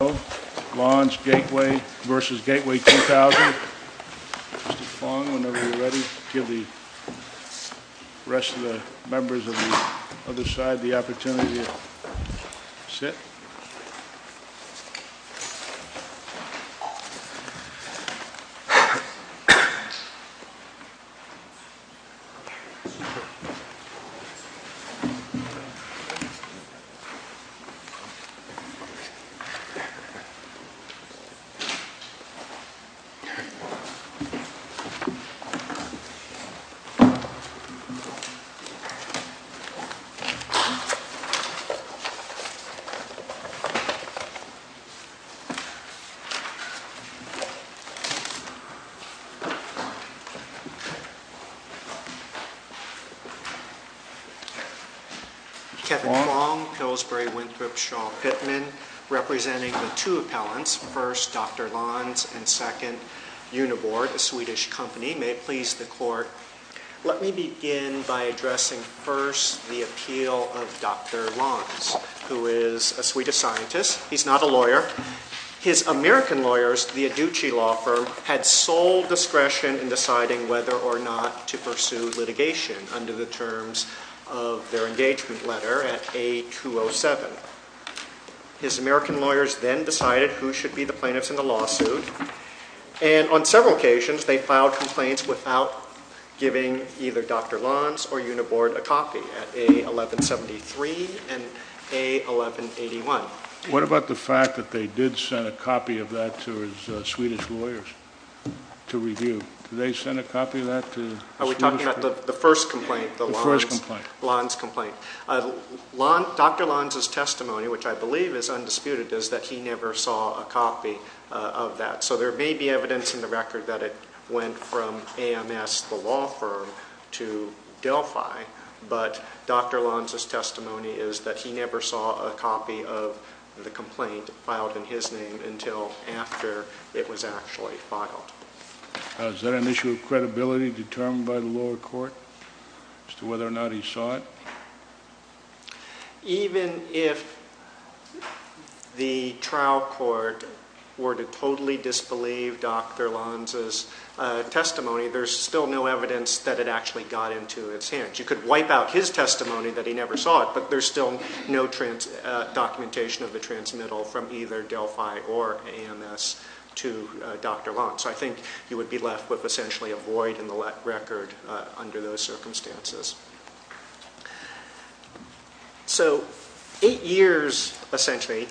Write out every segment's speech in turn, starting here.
Lans Gateway v. Gateway 2000 Mr. Fong, whenever you're ready, give the rest of the members of the other side the opportunity to sit. Kevin Fong, Pillsbury Winthrop, Sean Pittman representing the two appellants, first Dr. Lans and second Uniboard, a Swedish company. May it please the court, let me begin by addressing first the appeal of Dr. Lans, who is a Swedish scientist. He's not a lawyer. His American lawyers, the Aducci law firm, had sole discretion in deciding whether or not to pursue litigation under the terms of their engagement letter at A207. His American lawyers then decided who should be the plaintiffs in the lawsuit, and on several occasions they filed complaints without giving either Dr. Lans or Uniboard a copy at A1173 and A1181. What about the fact that they did send a copy of that to his Swedish lawyers to review? Did they send a copy of that to the Swedish lawyers? Are we talking about the first complaint? The first complaint. Lans complaint. Dr. Lans' testimony, which I believe is undisputed, is that he never saw a copy of that. So there may be evidence in the record that it went from AMS, the law firm, to Delphi, but Dr. Lans' testimony is that he never saw a copy of the complaint filed in his name until after it was actually filed. Is that an issue of credibility determined by the lower court as to whether or not he saw it? Even if the trial court were to totally disbelieve Dr. Lans' testimony, there's still no evidence that it actually got into his hands. You could wipe out his testimony that he never saw it, but there's still no documentation of the transmittal from either Delphi or AMS to Dr. Lans. So I think you would be left with essentially a void in the record under those circumstances. So eight years, essentially,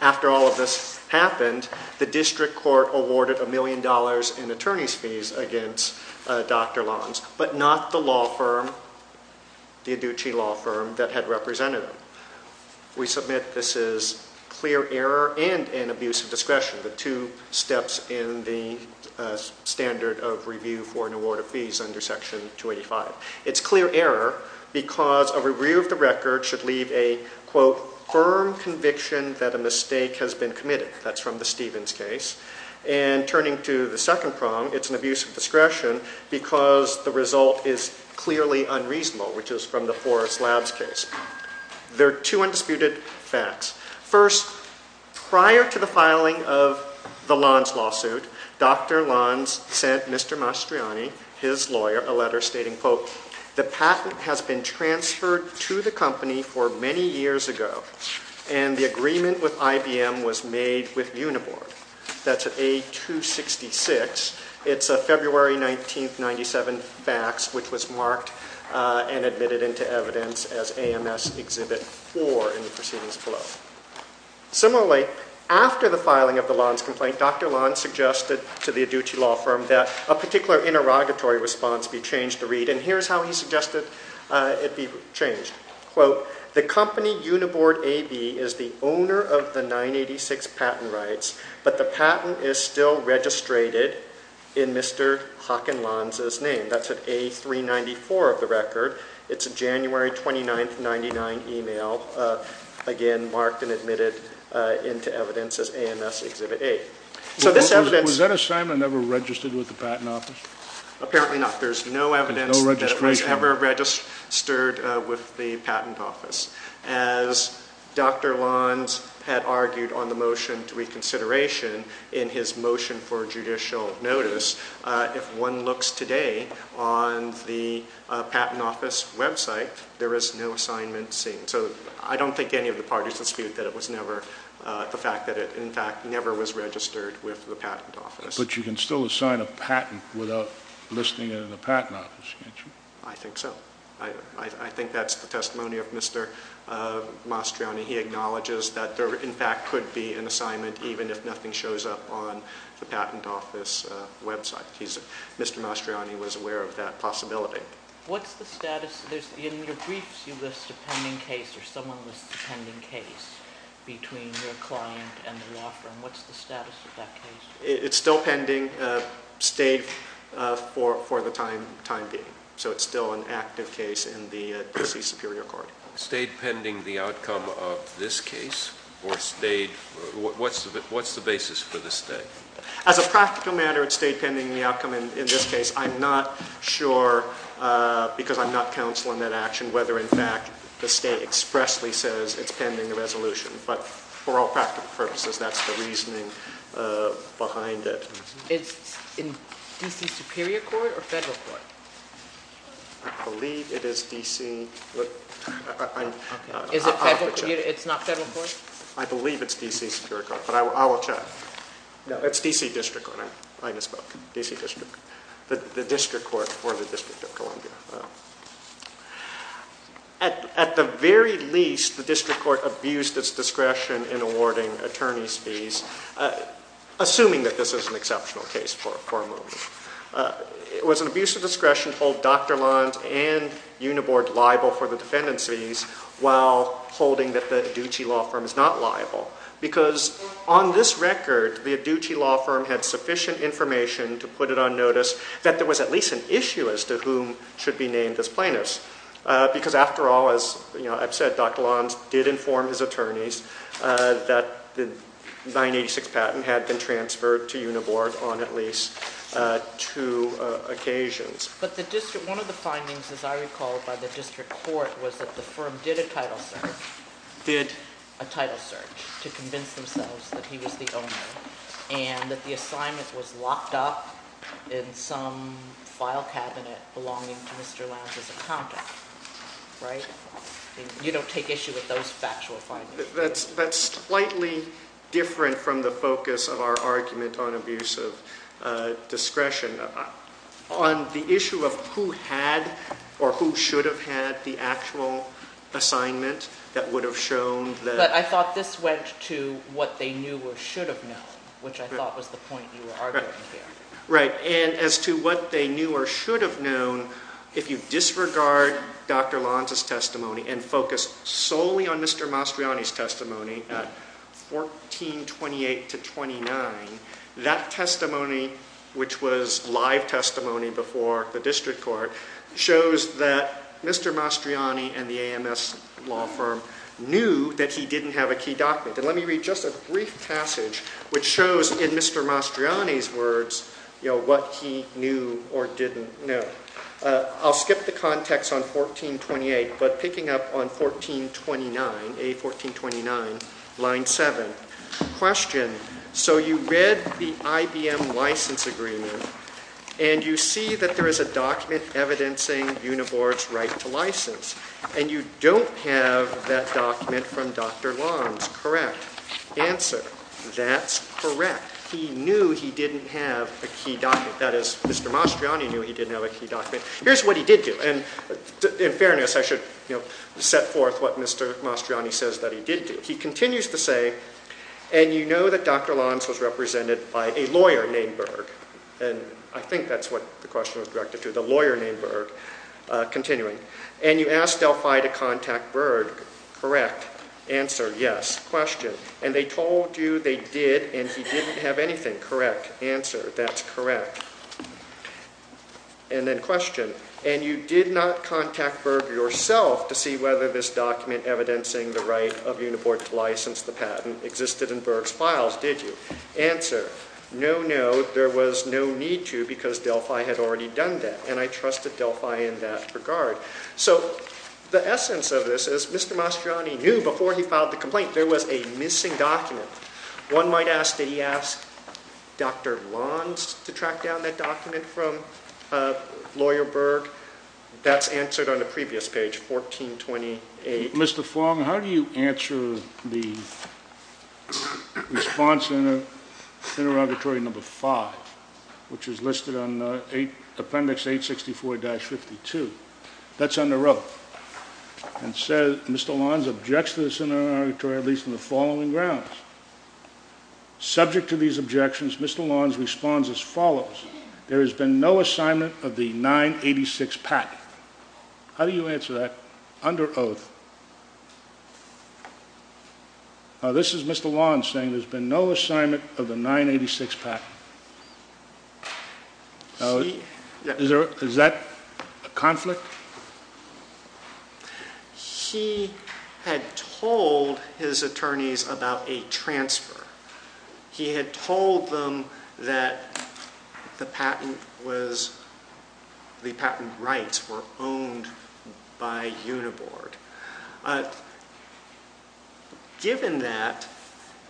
after all of this happened, the district court awarded a million dollars in attorney's fees against Dr. Lans, but not the law firm, the Adoochi law firm, that had represented him. We submit this is clear error and an abuse of discretion, the two steps in the standard of review for an award of fees under Section 285. It's clear error because a review of the record should leave a, quote, firm conviction that a mistake has been committed. That's from the Stevens case. And turning to the second prong, it's an abuse of discretion because the result is clearly unreasonable, which is from the Forrest Labs case. There are two undisputed facts. First, prior to the filing of the Lans lawsuit, Dr. Lans sent Mr. Mastriani, his lawyer, a letter stating, quote, the patent has been transferred to the company for many years ago, and the agreement with IBM was made with Uniboard. That's at A266. It's a February 19, 1997 fax, which was marked and admitted into evidence as AMS Exhibit 4 in the proceedings below. Similarly, after the filing of the Lans complaint, Dr. Lans suggested to the Adoochi law firm that a particular interrogatory response be changed to read, and here's how he suggested it be changed. Quote, the company Uniboard AB is the owner of the 986 patent rights, but the patent is still registrated in Mr. Hockenlans' name. That's at A394 of the record. It's a January 29, 1999 email, again marked and admitted into evidence as AMS Exhibit 8. So this evidence — Was that assignment ever registered with the Patent Office? Apparently not. There's no evidence that it was ever registered with the Patent Office. As Dr. Lans had argued on the motion to reconsideration in his motion for judicial notice, if one looks today on the Patent Office website, there is no assignment seen. So I don't think any of the parties dispute that it was never — the fact that it, in fact, never was registered with the Patent Office. But you can still assign a patent without listing it in the Patent Office, can't you? I think so. I think that's the testimony of Mr. Mastriani. He acknowledges that there, in fact, could be an assignment even if nothing shows up on the Patent Office website. Mr. Mastriani was aware of that possibility. What's the status — in your briefs you list a pending case or someone lists a pending case between your client and the law firm. What's the status of that case? It's still pending, stayed for the time being. So it's still an active case in the D.C. Superior Court. Stayed pending the outcome of this case? Or stayed — what's the basis for the stay? As a practical matter, it stayed pending the outcome in this case. I'm not sure, because I'm not counsel in that action, whether, in fact, the stay expressly says it's pending the resolution. But for all practical purposes, that's the reasoning behind it. Is it in D.C. Superior Court or Federal Court? I believe it is D.C. Is it Federal — it's not Federal Court? I believe it's D.C. Superior Court, but I will check. No, it's D.C. District Court. I misspoke. D.C. District. The District Court for the District of Columbia. At the very least, the District Court abused its discretion in awarding attorneys' fees, assuming that this is an exceptional case for a moment. It was an abuse of discretion to hold Dr. Lons and Uniboard liable for the defendants' fees while holding that the Adducci law firm is not liable. Because on this record, the Adducci law firm had sufficient information to put it on notice that there was at least an issue as to whom should be named as plaintiffs. Because after all, as I've said, Dr. Lons did inform his attorneys that the 986 patent had been transferred to Uniboard on at least two occasions. But the District — one of the findings, as I recall, by the District Court was that the firm did a title search. Did? A title search to convince themselves that he was the owner and that the assignment was locked up in some file cabinet belonging to Mr. Lons' accountant. Right? You don't take issue with those factual findings. That's slightly different from the focus of our argument on abuse of discretion. On the issue of who had or who should have had the actual assignment that would have shown that — But I thought this went to what they knew or should have known, which I thought was the point you were arguing here. Right. And as to what they knew or should have known, if you disregard Dr. Lons' testimony and focus solely on Mr. Mastriani's testimony at 1428-29, that testimony, which was live testimony before the District Court, shows that Mr. Mastriani and the AMS law firm knew that he didn't have a key document. And let me read just a brief passage which shows, in Mr. Mastriani's words, what he knew or didn't know. I'll skip the context on 1428, but picking up on 1429, A1429, line 7. Question. So you read the IBM license agreement, and you see that there is a document evidencing Uniboard's right to license. And you don't have that document from Dr. Lons. Correct. Answer. That's correct. He knew he didn't have a key document. That is, Mr. Mastriani knew he didn't have a key document. Here's what he did do. And in fairness, I should set forth what Mr. Mastriani says that he did do. He continues to say, and you know that Dr. Lons was represented by a lawyer named Berg. And I think that's what the question was directed to, the lawyer named Berg. Continuing. And you asked Delphi to contact Berg. Correct. Answer. Yes. Question. And they told you they did, and he didn't have anything. Correct. Answer. That's correct. And then question. And you did not contact Berg yourself to see whether this document evidencing the right of Uniboard to license the patent existed in Berg's files, did you? Answer. No, no. There was no need to because Delphi had already done that, and I trusted Delphi in that regard. So the essence of this is Mr. Mastriani knew before he filed the complaint there was a missing document. One might ask, did he ask Dr. Lons to track down that document from lawyer Berg? That's answered on the previous page, 1428. Mr. Fong, how do you answer the response in the interrogatory number five, which is listed on Appendix 864-52? That's under oath. And Mr. Lons objects to this interrogatory, at least on the following grounds. Subject to these objections, Mr. Lons responds as follows. There has been no assignment of the 986 patent. How do you answer that under oath? This is Mr. Lons saying there's been no assignment of the 986 patent. Is that a conflict? He had told his attorneys about a transfer. He had told them that the patent rights were owned by Uniboard. Given that,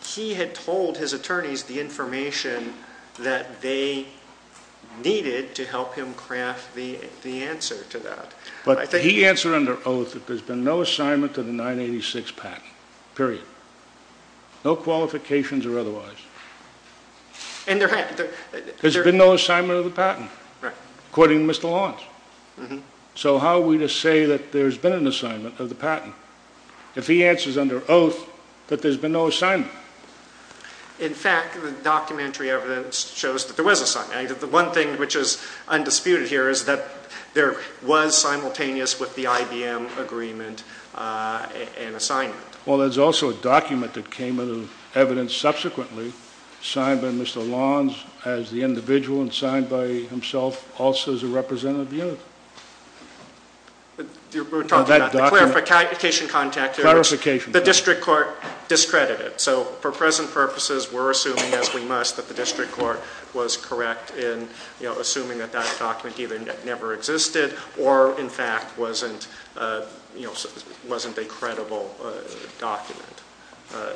he had told his attorneys the information that they needed to help him craft the answer to that. But he answered under oath that there's been no assignment of the 986 patent, period. No qualifications or otherwise. There's been no assignment of the patent, according to Mr. Lons. So how are we to say that there's been an assignment of the patent if he answers under oath that there's been no assignment? In fact, the documentary evidence shows that there was assignment. The one thing which is undisputed here is that there was simultaneous with the IBM agreement an assignment. Well, there's also a document that came out of evidence subsequently signed by Mr. Lons as the individual and signed by himself also as a representative unit. We're talking about the clarification contact. Clarification. The district court discredited it. So for present purposes, we're assuming as we must that the district court was correct in assuming that that document either never existed or in fact wasn't a credible document.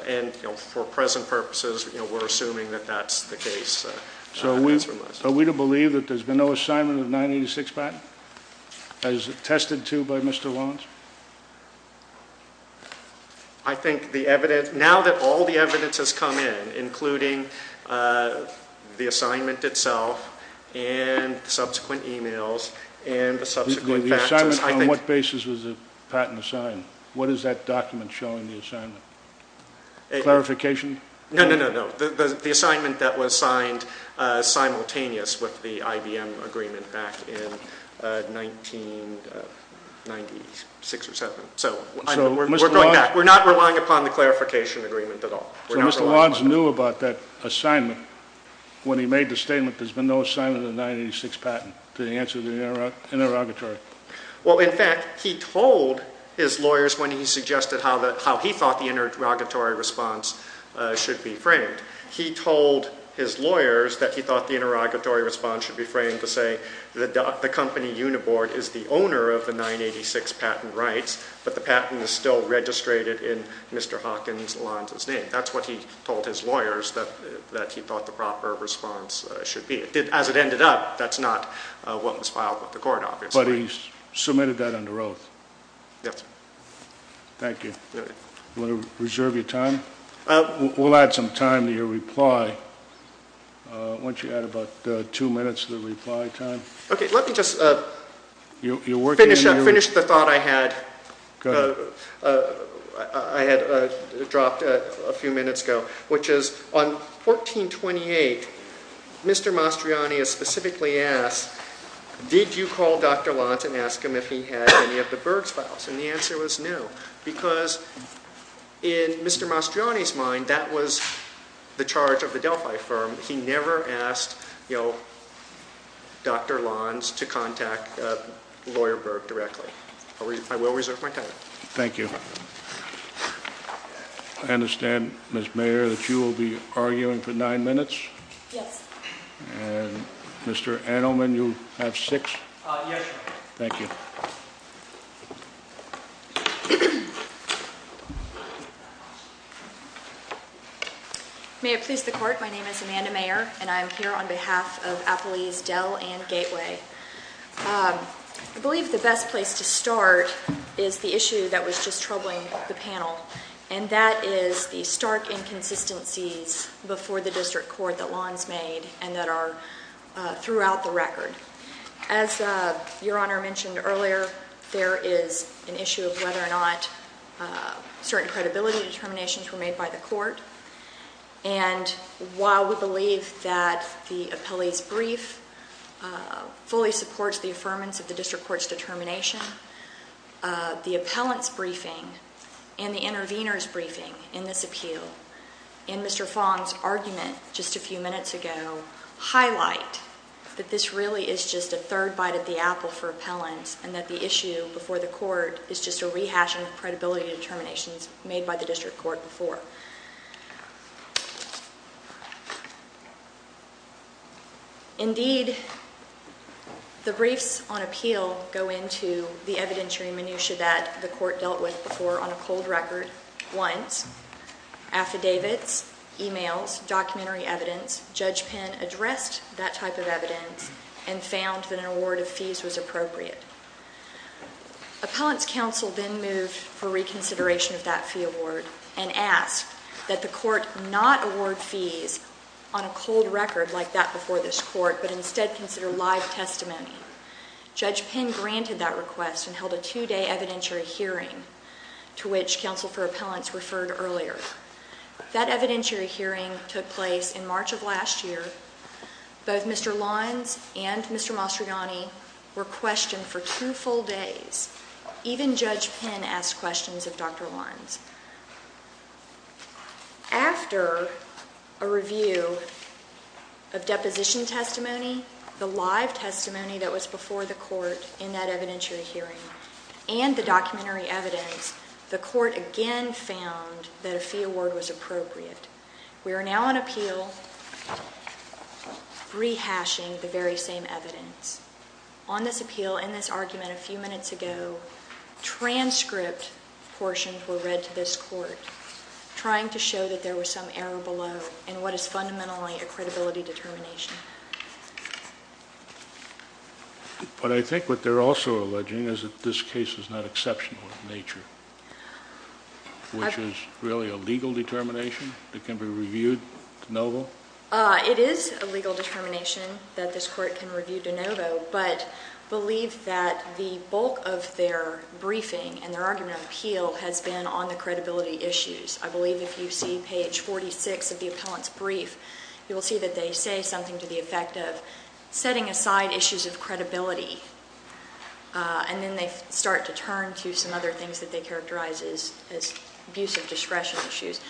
And for present purposes, we're assuming that that's the case. So are we to believe that there's been no assignment of the 986 patent as attested to by Mr. Lons? I think the evidence, now that all the evidence has come in, including the assignment itself and subsequent e-mails and the subsequent faxes, I think... The assignment on what basis was the patent assigned? What is that document showing the assignment? Clarification? No, no, no, no. The assignment that was signed simultaneous with the IBM agreement back in 1996 or 7. So we're going back. We're not relying upon the clarification agreement at all. So Mr. Lons knew about that assignment when he made the statement there's been no assignment of the 986 patent to answer the interrogatory. Well, in fact, he told his lawyers when he suggested how he thought the interrogatory response should be framed. He told his lawyers that he thought the interrogatory response should be framed to say the company Uniboard is the owner of the 986 patent rights, but the patent is still registrated in Mr. Hawkins Lons' name. That's what he told his lawyers, that he thought the proper response should be. As it ended up, that's not what was filed with the court, obviously. But he submitted that under oath. Yes. Thank you. You want to reserve your time? We'll add some time to your reply. Why don't you add about two minutes to the reply time? Okay, let me just finish the thought I had. Go ahead. I had dropped a few minutes ago, which is on 1428, Mr. Mastriani is specifically asked, did you call Dr. Lons and ask him if he had any of the Berg files? And the answer was no, because in Mr. Mastriani's mind, that was the charge of the Delphi firm. He never asked, you know, Dr. Lons to contact Lawyer Berg directly. I will reserve my time. Thank you. I understand, Ms. Mayer, that you will be arguing for nine minutes? Yes. And Mr. Adelman, you have six? Yes, Your Honor. Thank you. May it please the Court, my name is Amanda Mayer, and I am here on behalf of Appleease, Dell, and Gateway. I believe the best place to start is the issue that was just troubling the panel, and that is the stark inconsistencies before the district court that Lons made and that are throughout the record. As Your Honor mentioned earlier, there is an issue of whether or not certain credibility determinations were made by the court. And while we believe that the appellee's brief fully supports the affirmance of the district court's determination, the appellant's briefing and the intervener's briefing in this appeal in Mr. Fong's argument just a few minutes ago highlight that this really is just a third bite at the apple for appellants and that the issue before the court is just a rehashing of credibility determinations made by the district court before. Indeed, the briefs on appeal go into the evidentiary minutiae that the court dealt with before on a cold record once, affidavits, emails, documentary evidence. Judge Penn addressed that type of evidence and found that an award of fees was appropriate. Appellant's counsel then moved for reconsideration of that fee award and asked that the court not award fees on a cold record like that before this court, but instead consider live testimony. Judge Penn granted that request and held a two-day evidentiary hearing to which counsel for appellants referred earlier. That evidentiary hearing took place in March of last year. Both Mr. Lawrence and Mr. Mastrogiani were questioned for two full days. Even Judge Penn asked questions of Dr. Lawrence. After a review of deposition testimony, the live testimony that was before the court in that evidentiary hearing, and the documentary evidence, the court again found that a fee award was appropriate. We are now on appeal rehashing the very same evidence. On this appeal, in this argument a few minutes ago, transcript portions were read to this court, trying to show that there was some error below in what is fundamentally a credibility determination. But I think what they're also alleging is that this case is not exceptional in nature, which is really a legal determination that can be reviewed de novo? It is a legal determination that this court can review de novo, but believe that the bulk of their briefing and their argument of appeal has been on the credibility issues. I believe if you see page 46 of the appellant's brief, you will see that they say something to the effect of setting aside issues of credibility, and then they start to turn to some other things that they characterize as abusive discretion issues.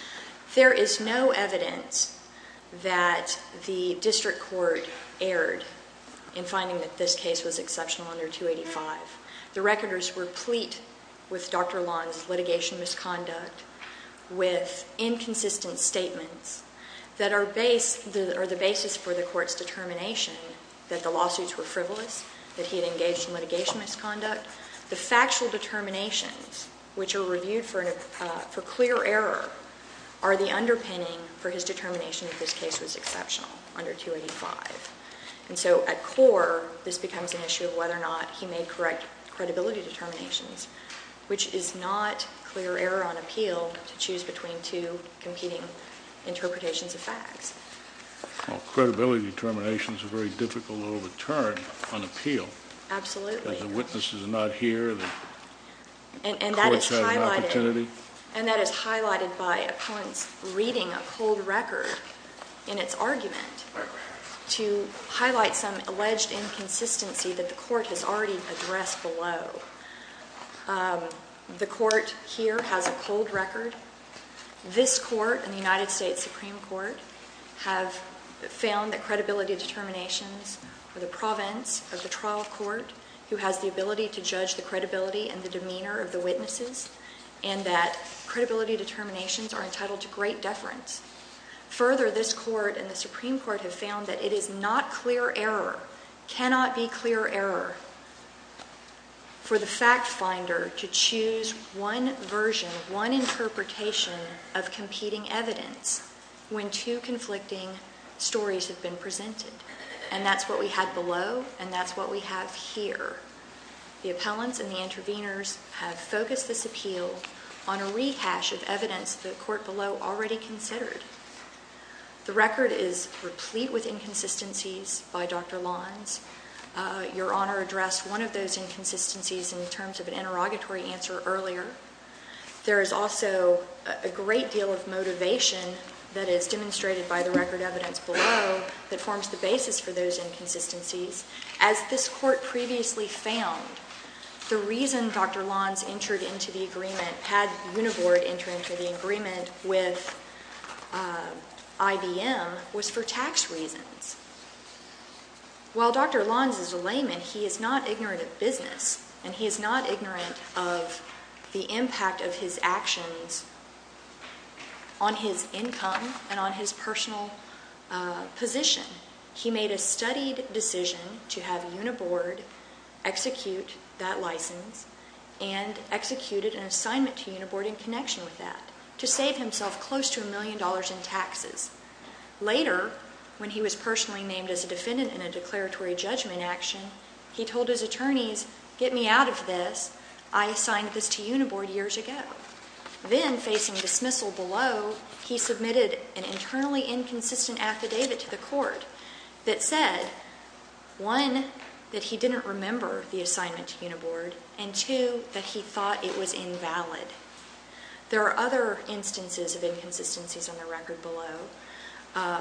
There is no evidence that the district court erred in finding that this case was exceptional under 285. The recorders were pleat with Dr. Long's litigation misconduct with inconsistent statements that are the basis for the court's determination that the lawsuits were frivolous, that he had engaged in litigation misconduct. The factual determinations, which are reviewed for clear error, are the underpinning for his determination that this case was exceptional under 285. And so at core, this becomes an issue of whether or not he made correct credibility determinations, which is not clear error on appeal to choose between two competing interpretations of facts. Well, credibility determinations are very difficult to overturn on appeal. Absolutely. The witnesses are not here. The court's had an opportunity. And that is highlighted by a point reading a cold record in its argument to highlight some alleged inconsistency that the court has already addressed below. The court here has a cold record. This court and the United States Supreme Court have found that credibility determinations for the province of the trial court who has the ability to judge the credibility and the demeanor of the witnesses and that credibility determinations are entitled to great deference. Further, this court and the Supreme Court have found that it is not clear error, cannot be clear error for the fact finder to choose one version, one interpretation of competing evidence when two conflicting stories have been presented. And that's what we had below, and that's what we have here. The appellants and the interveners have focused this appeal on a rehash of evidence the court below already considered. The record is replete with inconsistencies by Dr. Lons. Your Honor addressed one of those inconsistencies in terms of an interrogatory answer earlier. There is also a great deal of motivation that is demonstrated by the record evidence below that forms the basis for those inconsistencies. As this court previously found, the reason Dr. Lons entered into the agreement, had Univort enter into the agreement with IBM, was for tax reasons. While Dr. Lons is a layman, he is not ignorant of business, and he is not ignorant of the impact of his actions on his income and on his personal position. He made a studied decision to have Univort execute that license and executed an assignment to Univort in connection with that to save himself close to a million dollars in taxes. Later, when he was personally named as a defendant in a declaratory judgment action, he told his attorneys, get me out of this. I assigned this to Univort years ago. Then, facing dismissal below, he submitted an internally inconsistent affidavit to the court that said, one, that he didn't remember the assignment to Univort, and two, that he thought it was invalid. There are other instances of inconsistencies on the record below.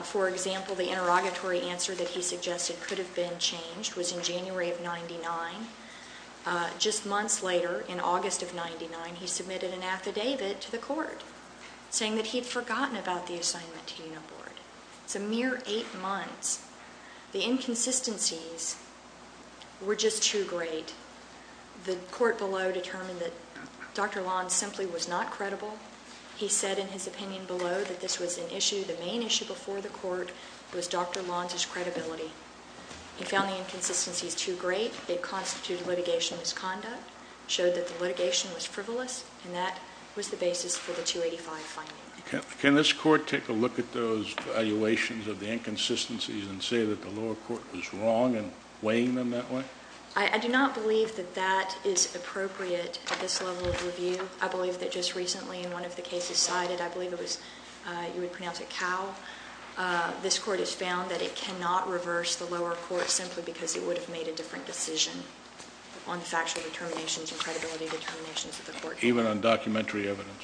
For example, the interrogatory answer that he suggested could have been changed was in January of 99. Just months later, in August of 99, he submitted an affidavit to the court saying that he had forgotten about the assignment to Univort. It's a mere eight months. The inconsistencies were just too great. The court below determined that Dr. Lons simply was not credible. He said in his opinion below that this was an issue. The main issue before the court was Dr. Lons' credibility. He found the inconsistencies too great. They constituted litigation misconduct, showed that the litigation was frivolous, and that was the basis for the 285 finding. Can this court take a look at those valuations of the inconsistencies and say that the lower court was wrong in weighing them that way? I do not believe that that is appropriate at this level of review. I believe that just recently in one of the cases cited, I believe it was you would pronounce it Cowell, this court has found that it cannot reverse the lower court simply because it would have made a different decision on factual determinations and credibility determinations of the court. Even on documentary evidence?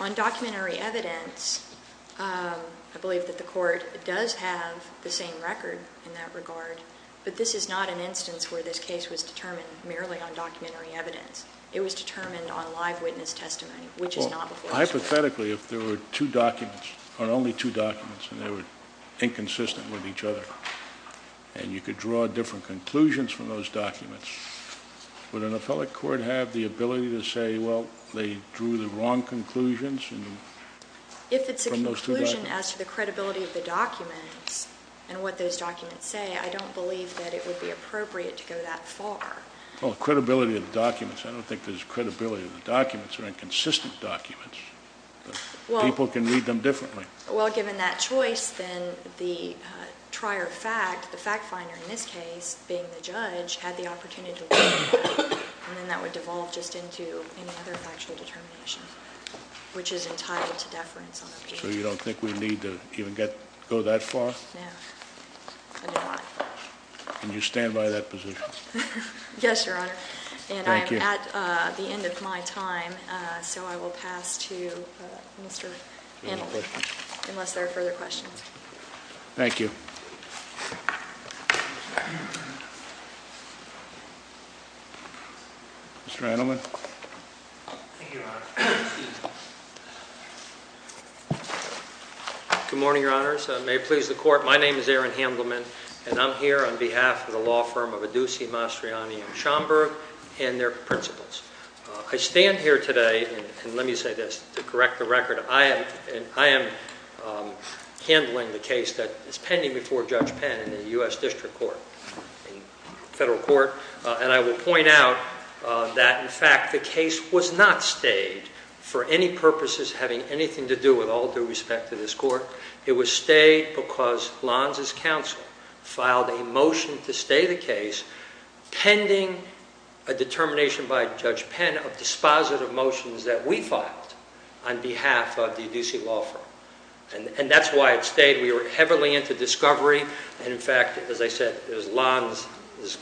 On documentary evidence, I believe that the court does have the same record in that regard, but this is not an instance where this case was determined merely on documentary evidence. It was determined on live witness testimony, which is not the case. Hypothetically, if there were only two documents and they were inconsistent with each other and you could draw different conclusions from those documents, would an appellate court have the ability to say, well, they drew the wrong conclusions? If it's a conclusion as to the credibility of the documents and what those documents say, I don't believe that it would be appropriate to go that far. Well, credibility of the documents. I don't think there's credibility of the documents. They're inconsistent documents. People can read them differently. Well, given that choice, then the trier fact, the fact finder in this case being the judge, had the opportunity to look at that, and then that would devolve just into any other factual determination, which is entitled to deference on appeal. So you don't think we need to even go that far? No, I do not. Can you stand by that position? Yes, Your Honor. Thank you. And I am at the end of my time, so I will pass to Mr. Handelman. Unless there are further questions. Thank you. Mr. Handelman. Good morning, Your Honors. May it please the Court, my name is Aaron Handelman, and I'm here on behalf of the law firm of Adusi, Mastriani, and Schomburg and their principals. I stand here today, and let me say this, to correct the record, I am handling the case that is pending before Judge Penn in the U.S. District Court, a federal court, and I will point out that, in fact, the case was not stayed for any purposes having anything to do with all due respect to this court. It was stayed because Lons' counsel filed a motion to stay the case pending a determination by Judge Penn of dispositive motions that we filed on behalf of the Adusi law firm. And that's why it stayed. We were heavily into discovery, and in fact, as I said, it was Lons'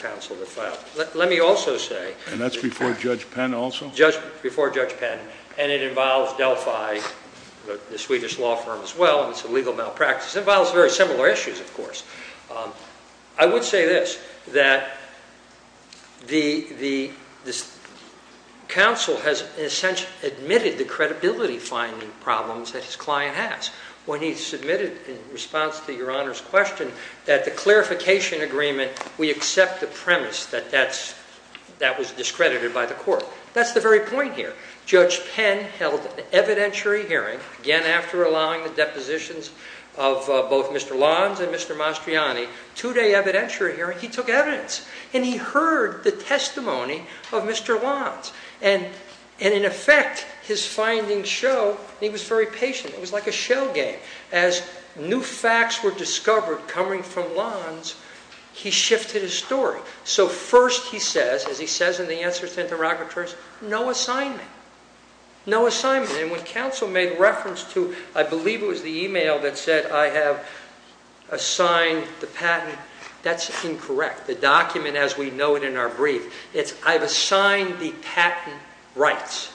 counsel that filed it. Let me also say... And that's before Judge Penn also? Before Judge Penn. And it involves Delphi, the Swedish law firm as well, and it's a legal malpractice. It involves very similar issues, of course. I would say this, that the counsel has in a sense admitted the credibility-finding problems that his client has. When he submitted in response to Your Honor's question that the clarification agreement, we accept the premise that that was discredited by the court. That's the very point here. Judge Penn held an evidentiary hearing. Again, after allowing the depositions of both Mr. Lons and Mr. Mastriani, two-day evidentiary hearing, he took evidence, and he heard the testimony of Mr. Lons. And in effect, his findings show, and he was very patient. It was like a show game. As new facts were discovered coming from Lons, he shifted his story. So first he says, as he says in the answers to interlocutors, no assignment. No assignment. And when counsel made reference to, I believe it was the e-mail that said, I have assigned the patent, that's incorrect. The document as we know it in our brief, it's I've assigned the patent rights.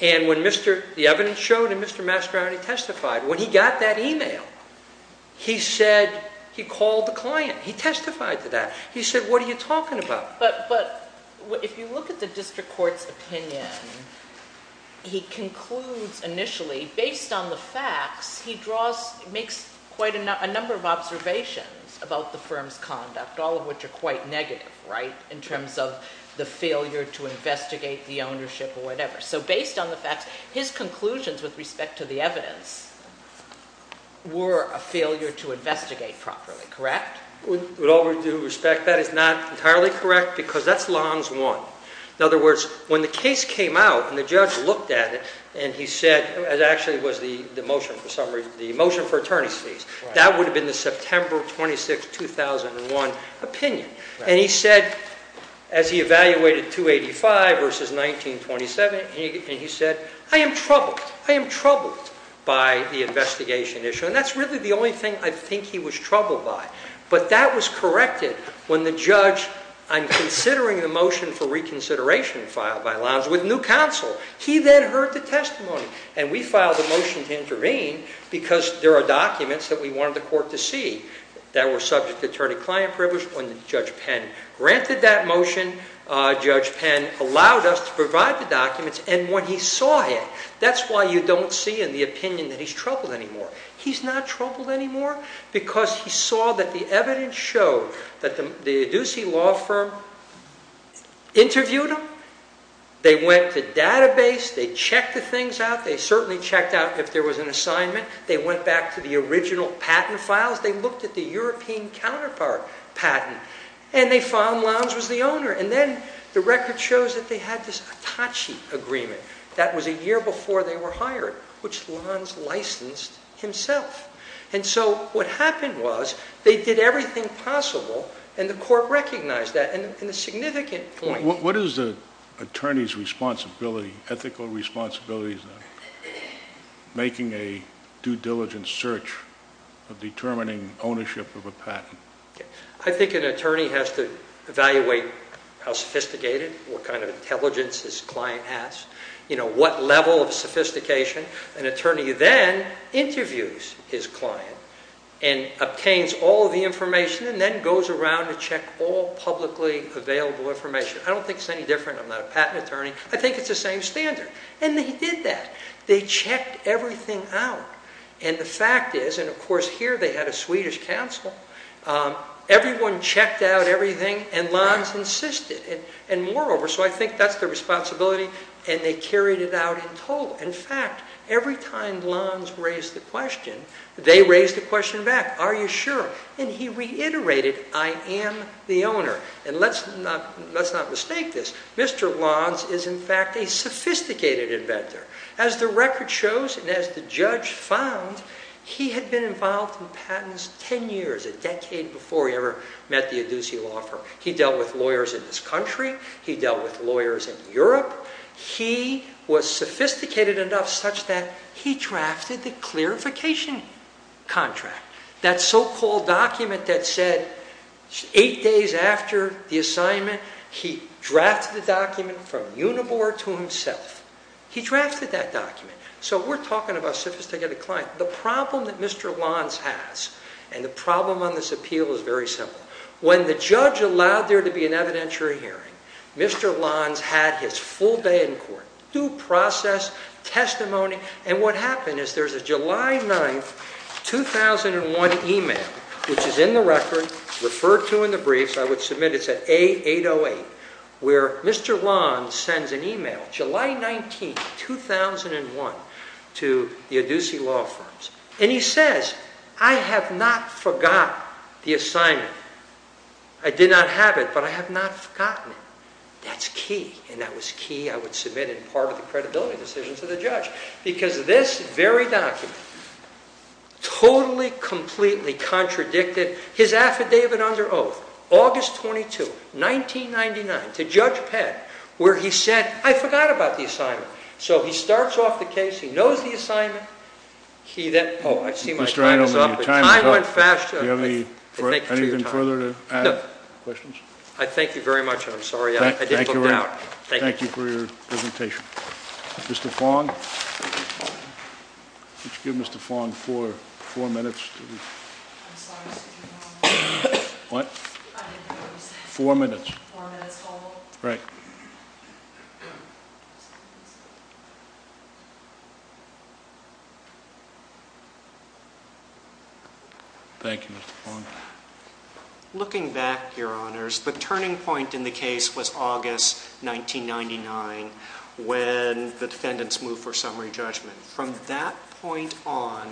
And when the evidence showed and Mr. Mastriani testified, when he got that e-mail, he said he called the client. He testified to that. He said, what are you talking about? But if you look at the district court's opinion, he concludes initially, based on the facts, he makes quite a number of observations about the firm's conduct, all of which are quite negative, right, in terms of the failure to investigate the ownership or whatever. So based on the facts, his conclusions with respect to the evidence were a failure to investigate properly, correct? With all due respect, that is not entirely correct because that's Lons 1. In other words, when the case came out and the judge looked at it and he said, it actually was the motion for summary, the motion for attorney's fees, that would have been the September 26, 2001 opinion. And he said, as he evaluated 285 versus 1927, and he said, I am troubled. I am troubled by the investigation issue. And that's really the only thing I think he was troubled by. But that was corrected when the judge, I'm considering the motion for reconsideration filed by Lons with new counsel. He then heard the testimony. And we filed a motion to intervene because there are documents that we wanted the court to see that were subject to attorney-client privilege. When Judge Penn granted that motion, Judge Penn allowed us to provide the documents. And when he saw it, that's why you don't see in the opinion that he's troubled anymore. He's not troubled anymore because he saw that the evidence showed that the Ducey Law Firm interviewed him. They went to database. They checked the things out. They certainly checked out if there was an assignment. They went back to the original patent files. They looked at the European counterpart patent. And they found Lons was the owner. And then the record shows that they had this Atachi agreement. That was a year before they were hired, which Lons licensed himself. And so what happened was they did everything possible, and the court recognized that. And the significant point was... What is the attorney's responsibility, ethical responsibility, in making a due diligence search of determining ownership of a patent? I think an attorney has to evaluate how sophisticated, what kind of intelligence his client has, what level of sophistication. An attorney then interviews his client and obtains all the information and then goes around to check all publicly available information. I don't think it's any different. I'm not a patent attorney. I think it's the same standard. And they did that. They checked everything out. And the fact is, and, of course, here they had a Swedish counsel. Everyone checked out everything, and Lons insisted. And, moreover, so I think that's the responsibility, and they carried it out in total. In fact, every time Lons raised the question, they raised the question back, are you sure? And he reiterated, I am the owner. And let's not mistake this. Mr. Lons is, in fact, a sophisticated inventor. As the record shows and as the judge found, he had been involved in patents 10 years, a decade before he ever met the adducee law firm. He dealt with lawyers in this country. He dealt with lawyers in Europe. He was sophisticated enough such that he drafted the clarification contract, that so-called document that said eight days after the assignment, he drafted the document from Unibor to himself. He drafted that document. So we're talking about a sophisticated client. The problem that Mr. Lons has, and the problem on this appeal is very simple. When the judge allowed there to be an evidentiary hearing, Mr. Lons had his full day in court, due process, testimony, and what happened is there's a July 9, 2001 email, which is in the record, referred to in the briefs, I would submit it's at A808, where Mr. Lons sends an email, July 19, 2001, to the adducee law firms. And he says, I have not forgot the assignment. I did not have it, but I have not forgotten it. That's key, and that was key. I would submit it in part of the credibility decision to the judge, because this very document totally, completely contradicted his affidavit under oath, August 22, 1999, to Judge Pett, where he said, I forgot about the assignment. So he starts off the case. He knows the assignment. Oh, I see my time is up. I went faster. Do you have anything further to add? No. Questions? I thank you very much, and I'm sorry I didn't look it out. Thank you for your presentation. Mr. Fong? Could you give Mr. Fong four minutes? I'm sorry, Mr. Chairman. What? I didn't hear what you said. Four minutes. Four minutes total? Right. Thank you, Mr. Fong. Looking back, Your Honors, the turning point in the case was August 1999, when the defendants moved for summary judgment. From that point on,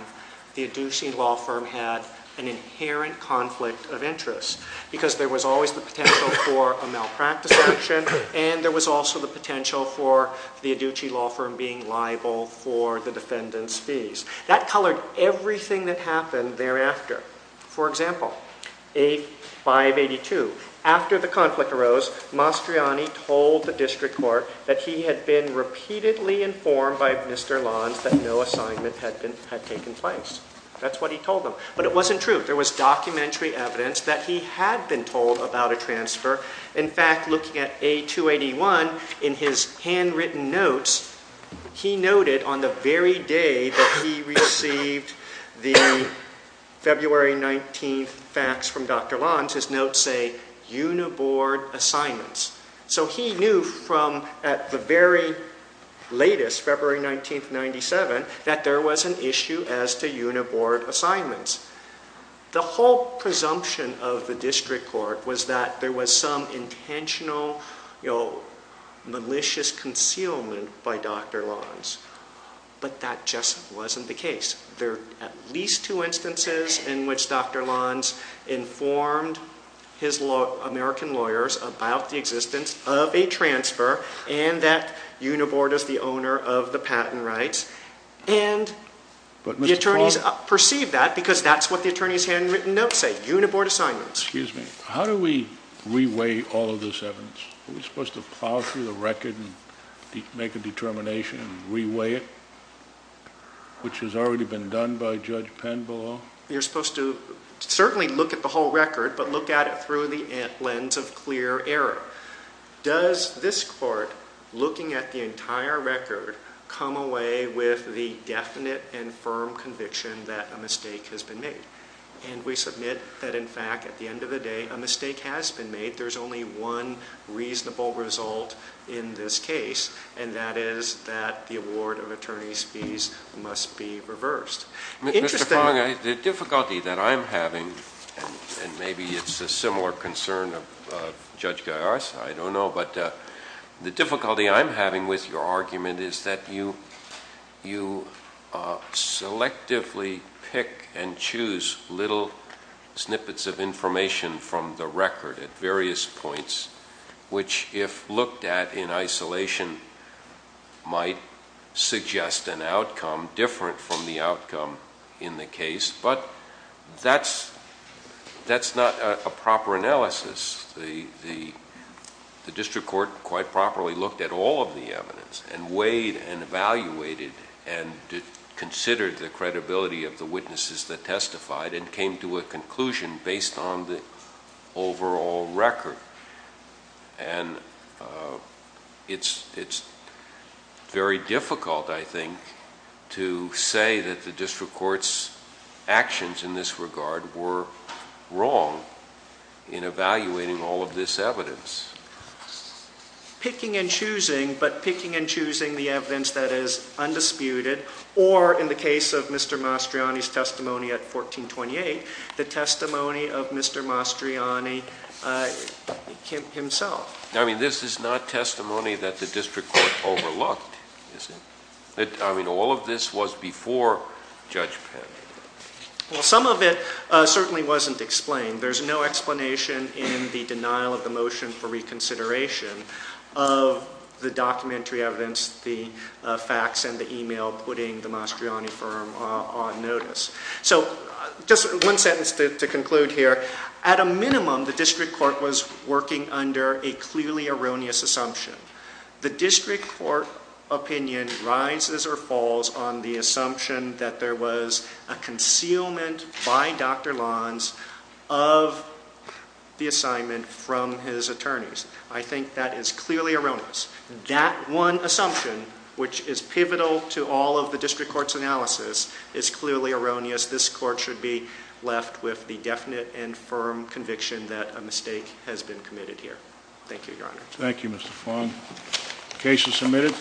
the Adducee Law Firm had an inherent conflict of interest, because there was always the potential for a malpractice action, and there was also the potential for the Adducee Law Firm being liable for the defendant's fees. That colored everything that happened thereafter. For example, A582, after the conflict arose, Mastriani told the district court that he had been repeatedly informed by Mr. Lons that no assignment had taken place. That's what he told them. But it wasn't true. There was documentary evidence that he had been told about a transfer. In fact, looking at A281, in his handwritten notes, he noted on the very day that he received the February 19 facts from Dr. Lons, his notes say, Uniboard assignments. So he knew from at the very latest, February 19, 1997, that there was an issue as to Uniboard assignments. The whole presumption of the district court was that there was some intentional malicious concealment by Dr. Lons. But that just wasn't the case. There are at least two instances in which Dr. Lons informed his American lawyers about the existence of a transfer, and that Uniboard is the owner of the patent rights. And the attorneys perceived that because that's what the attorney's handwritten notes say, Uniboard assignments. Excuse me. How do we re-weigh all of this evidence? Are we supposed to plow through the record and make a determination and re-weigh it, which has already been done by Judge Penbelow? You're supposed to certainly look at the whole record, but look at it through the lens of clear error. Does this court, looking at the entire record, come away with the definite and firm conviction that a mistake has been made? And we submit that, in fact, at the end of the day, a mistake has been made. There's only one reasonable result in this case, and that is that the award of attorney's fees must be reversed. Mr. Fong, the difficulty that I'm having, and maybe it's a similar concern of Judge Gaius, I don't know, but the difficulty I'm having with your argument is that you selectively pick and choose little snippets of information from the record at various points, which, if looked at in isolation, might suggest an outcome different from the outcome in the case. But that's not a proper analysis. The district court quite properly looked at all of the evidence and weighed and evaluated and considered the credibility of the witnesses that testified and came to a conclusion based on the overall record. And it's very difficult, I think, to say that the district court's actions in this regard were wrong in evaluating all of this evidence. Picking and choosing, but picking and choosing the evidence that is undisputed, or, in the case of Mr. Mastriani's testimony at 1428, the testimony of Mr. Mastriani himself. I mean, this is not testimony that the district court overlooked. I mean, all of this was before Judge Penn. Well, some of it certainly wasn't explained. There's no explanation in the denial of the motion for reconsideration of the documentary evidence, the facts, and the email putting the Mastriani firm on notice. So just one sentence to conclude here. At a minimum, the district court was working under a clearly erroneous assumption. The district court opinion rises or falls on the assumption that there was a concealment by Dr. Lanz of the assignment from his attorneys. I think that is clearly erroneous. That one assumption, which is pivotal to all of the district court's analysis, is clearly erroneous. This court should be left with the definite and firm conviction that a mistake has been committed here. Thank you, Your Honor. Thank you, Mr. Fong. Case is submitted.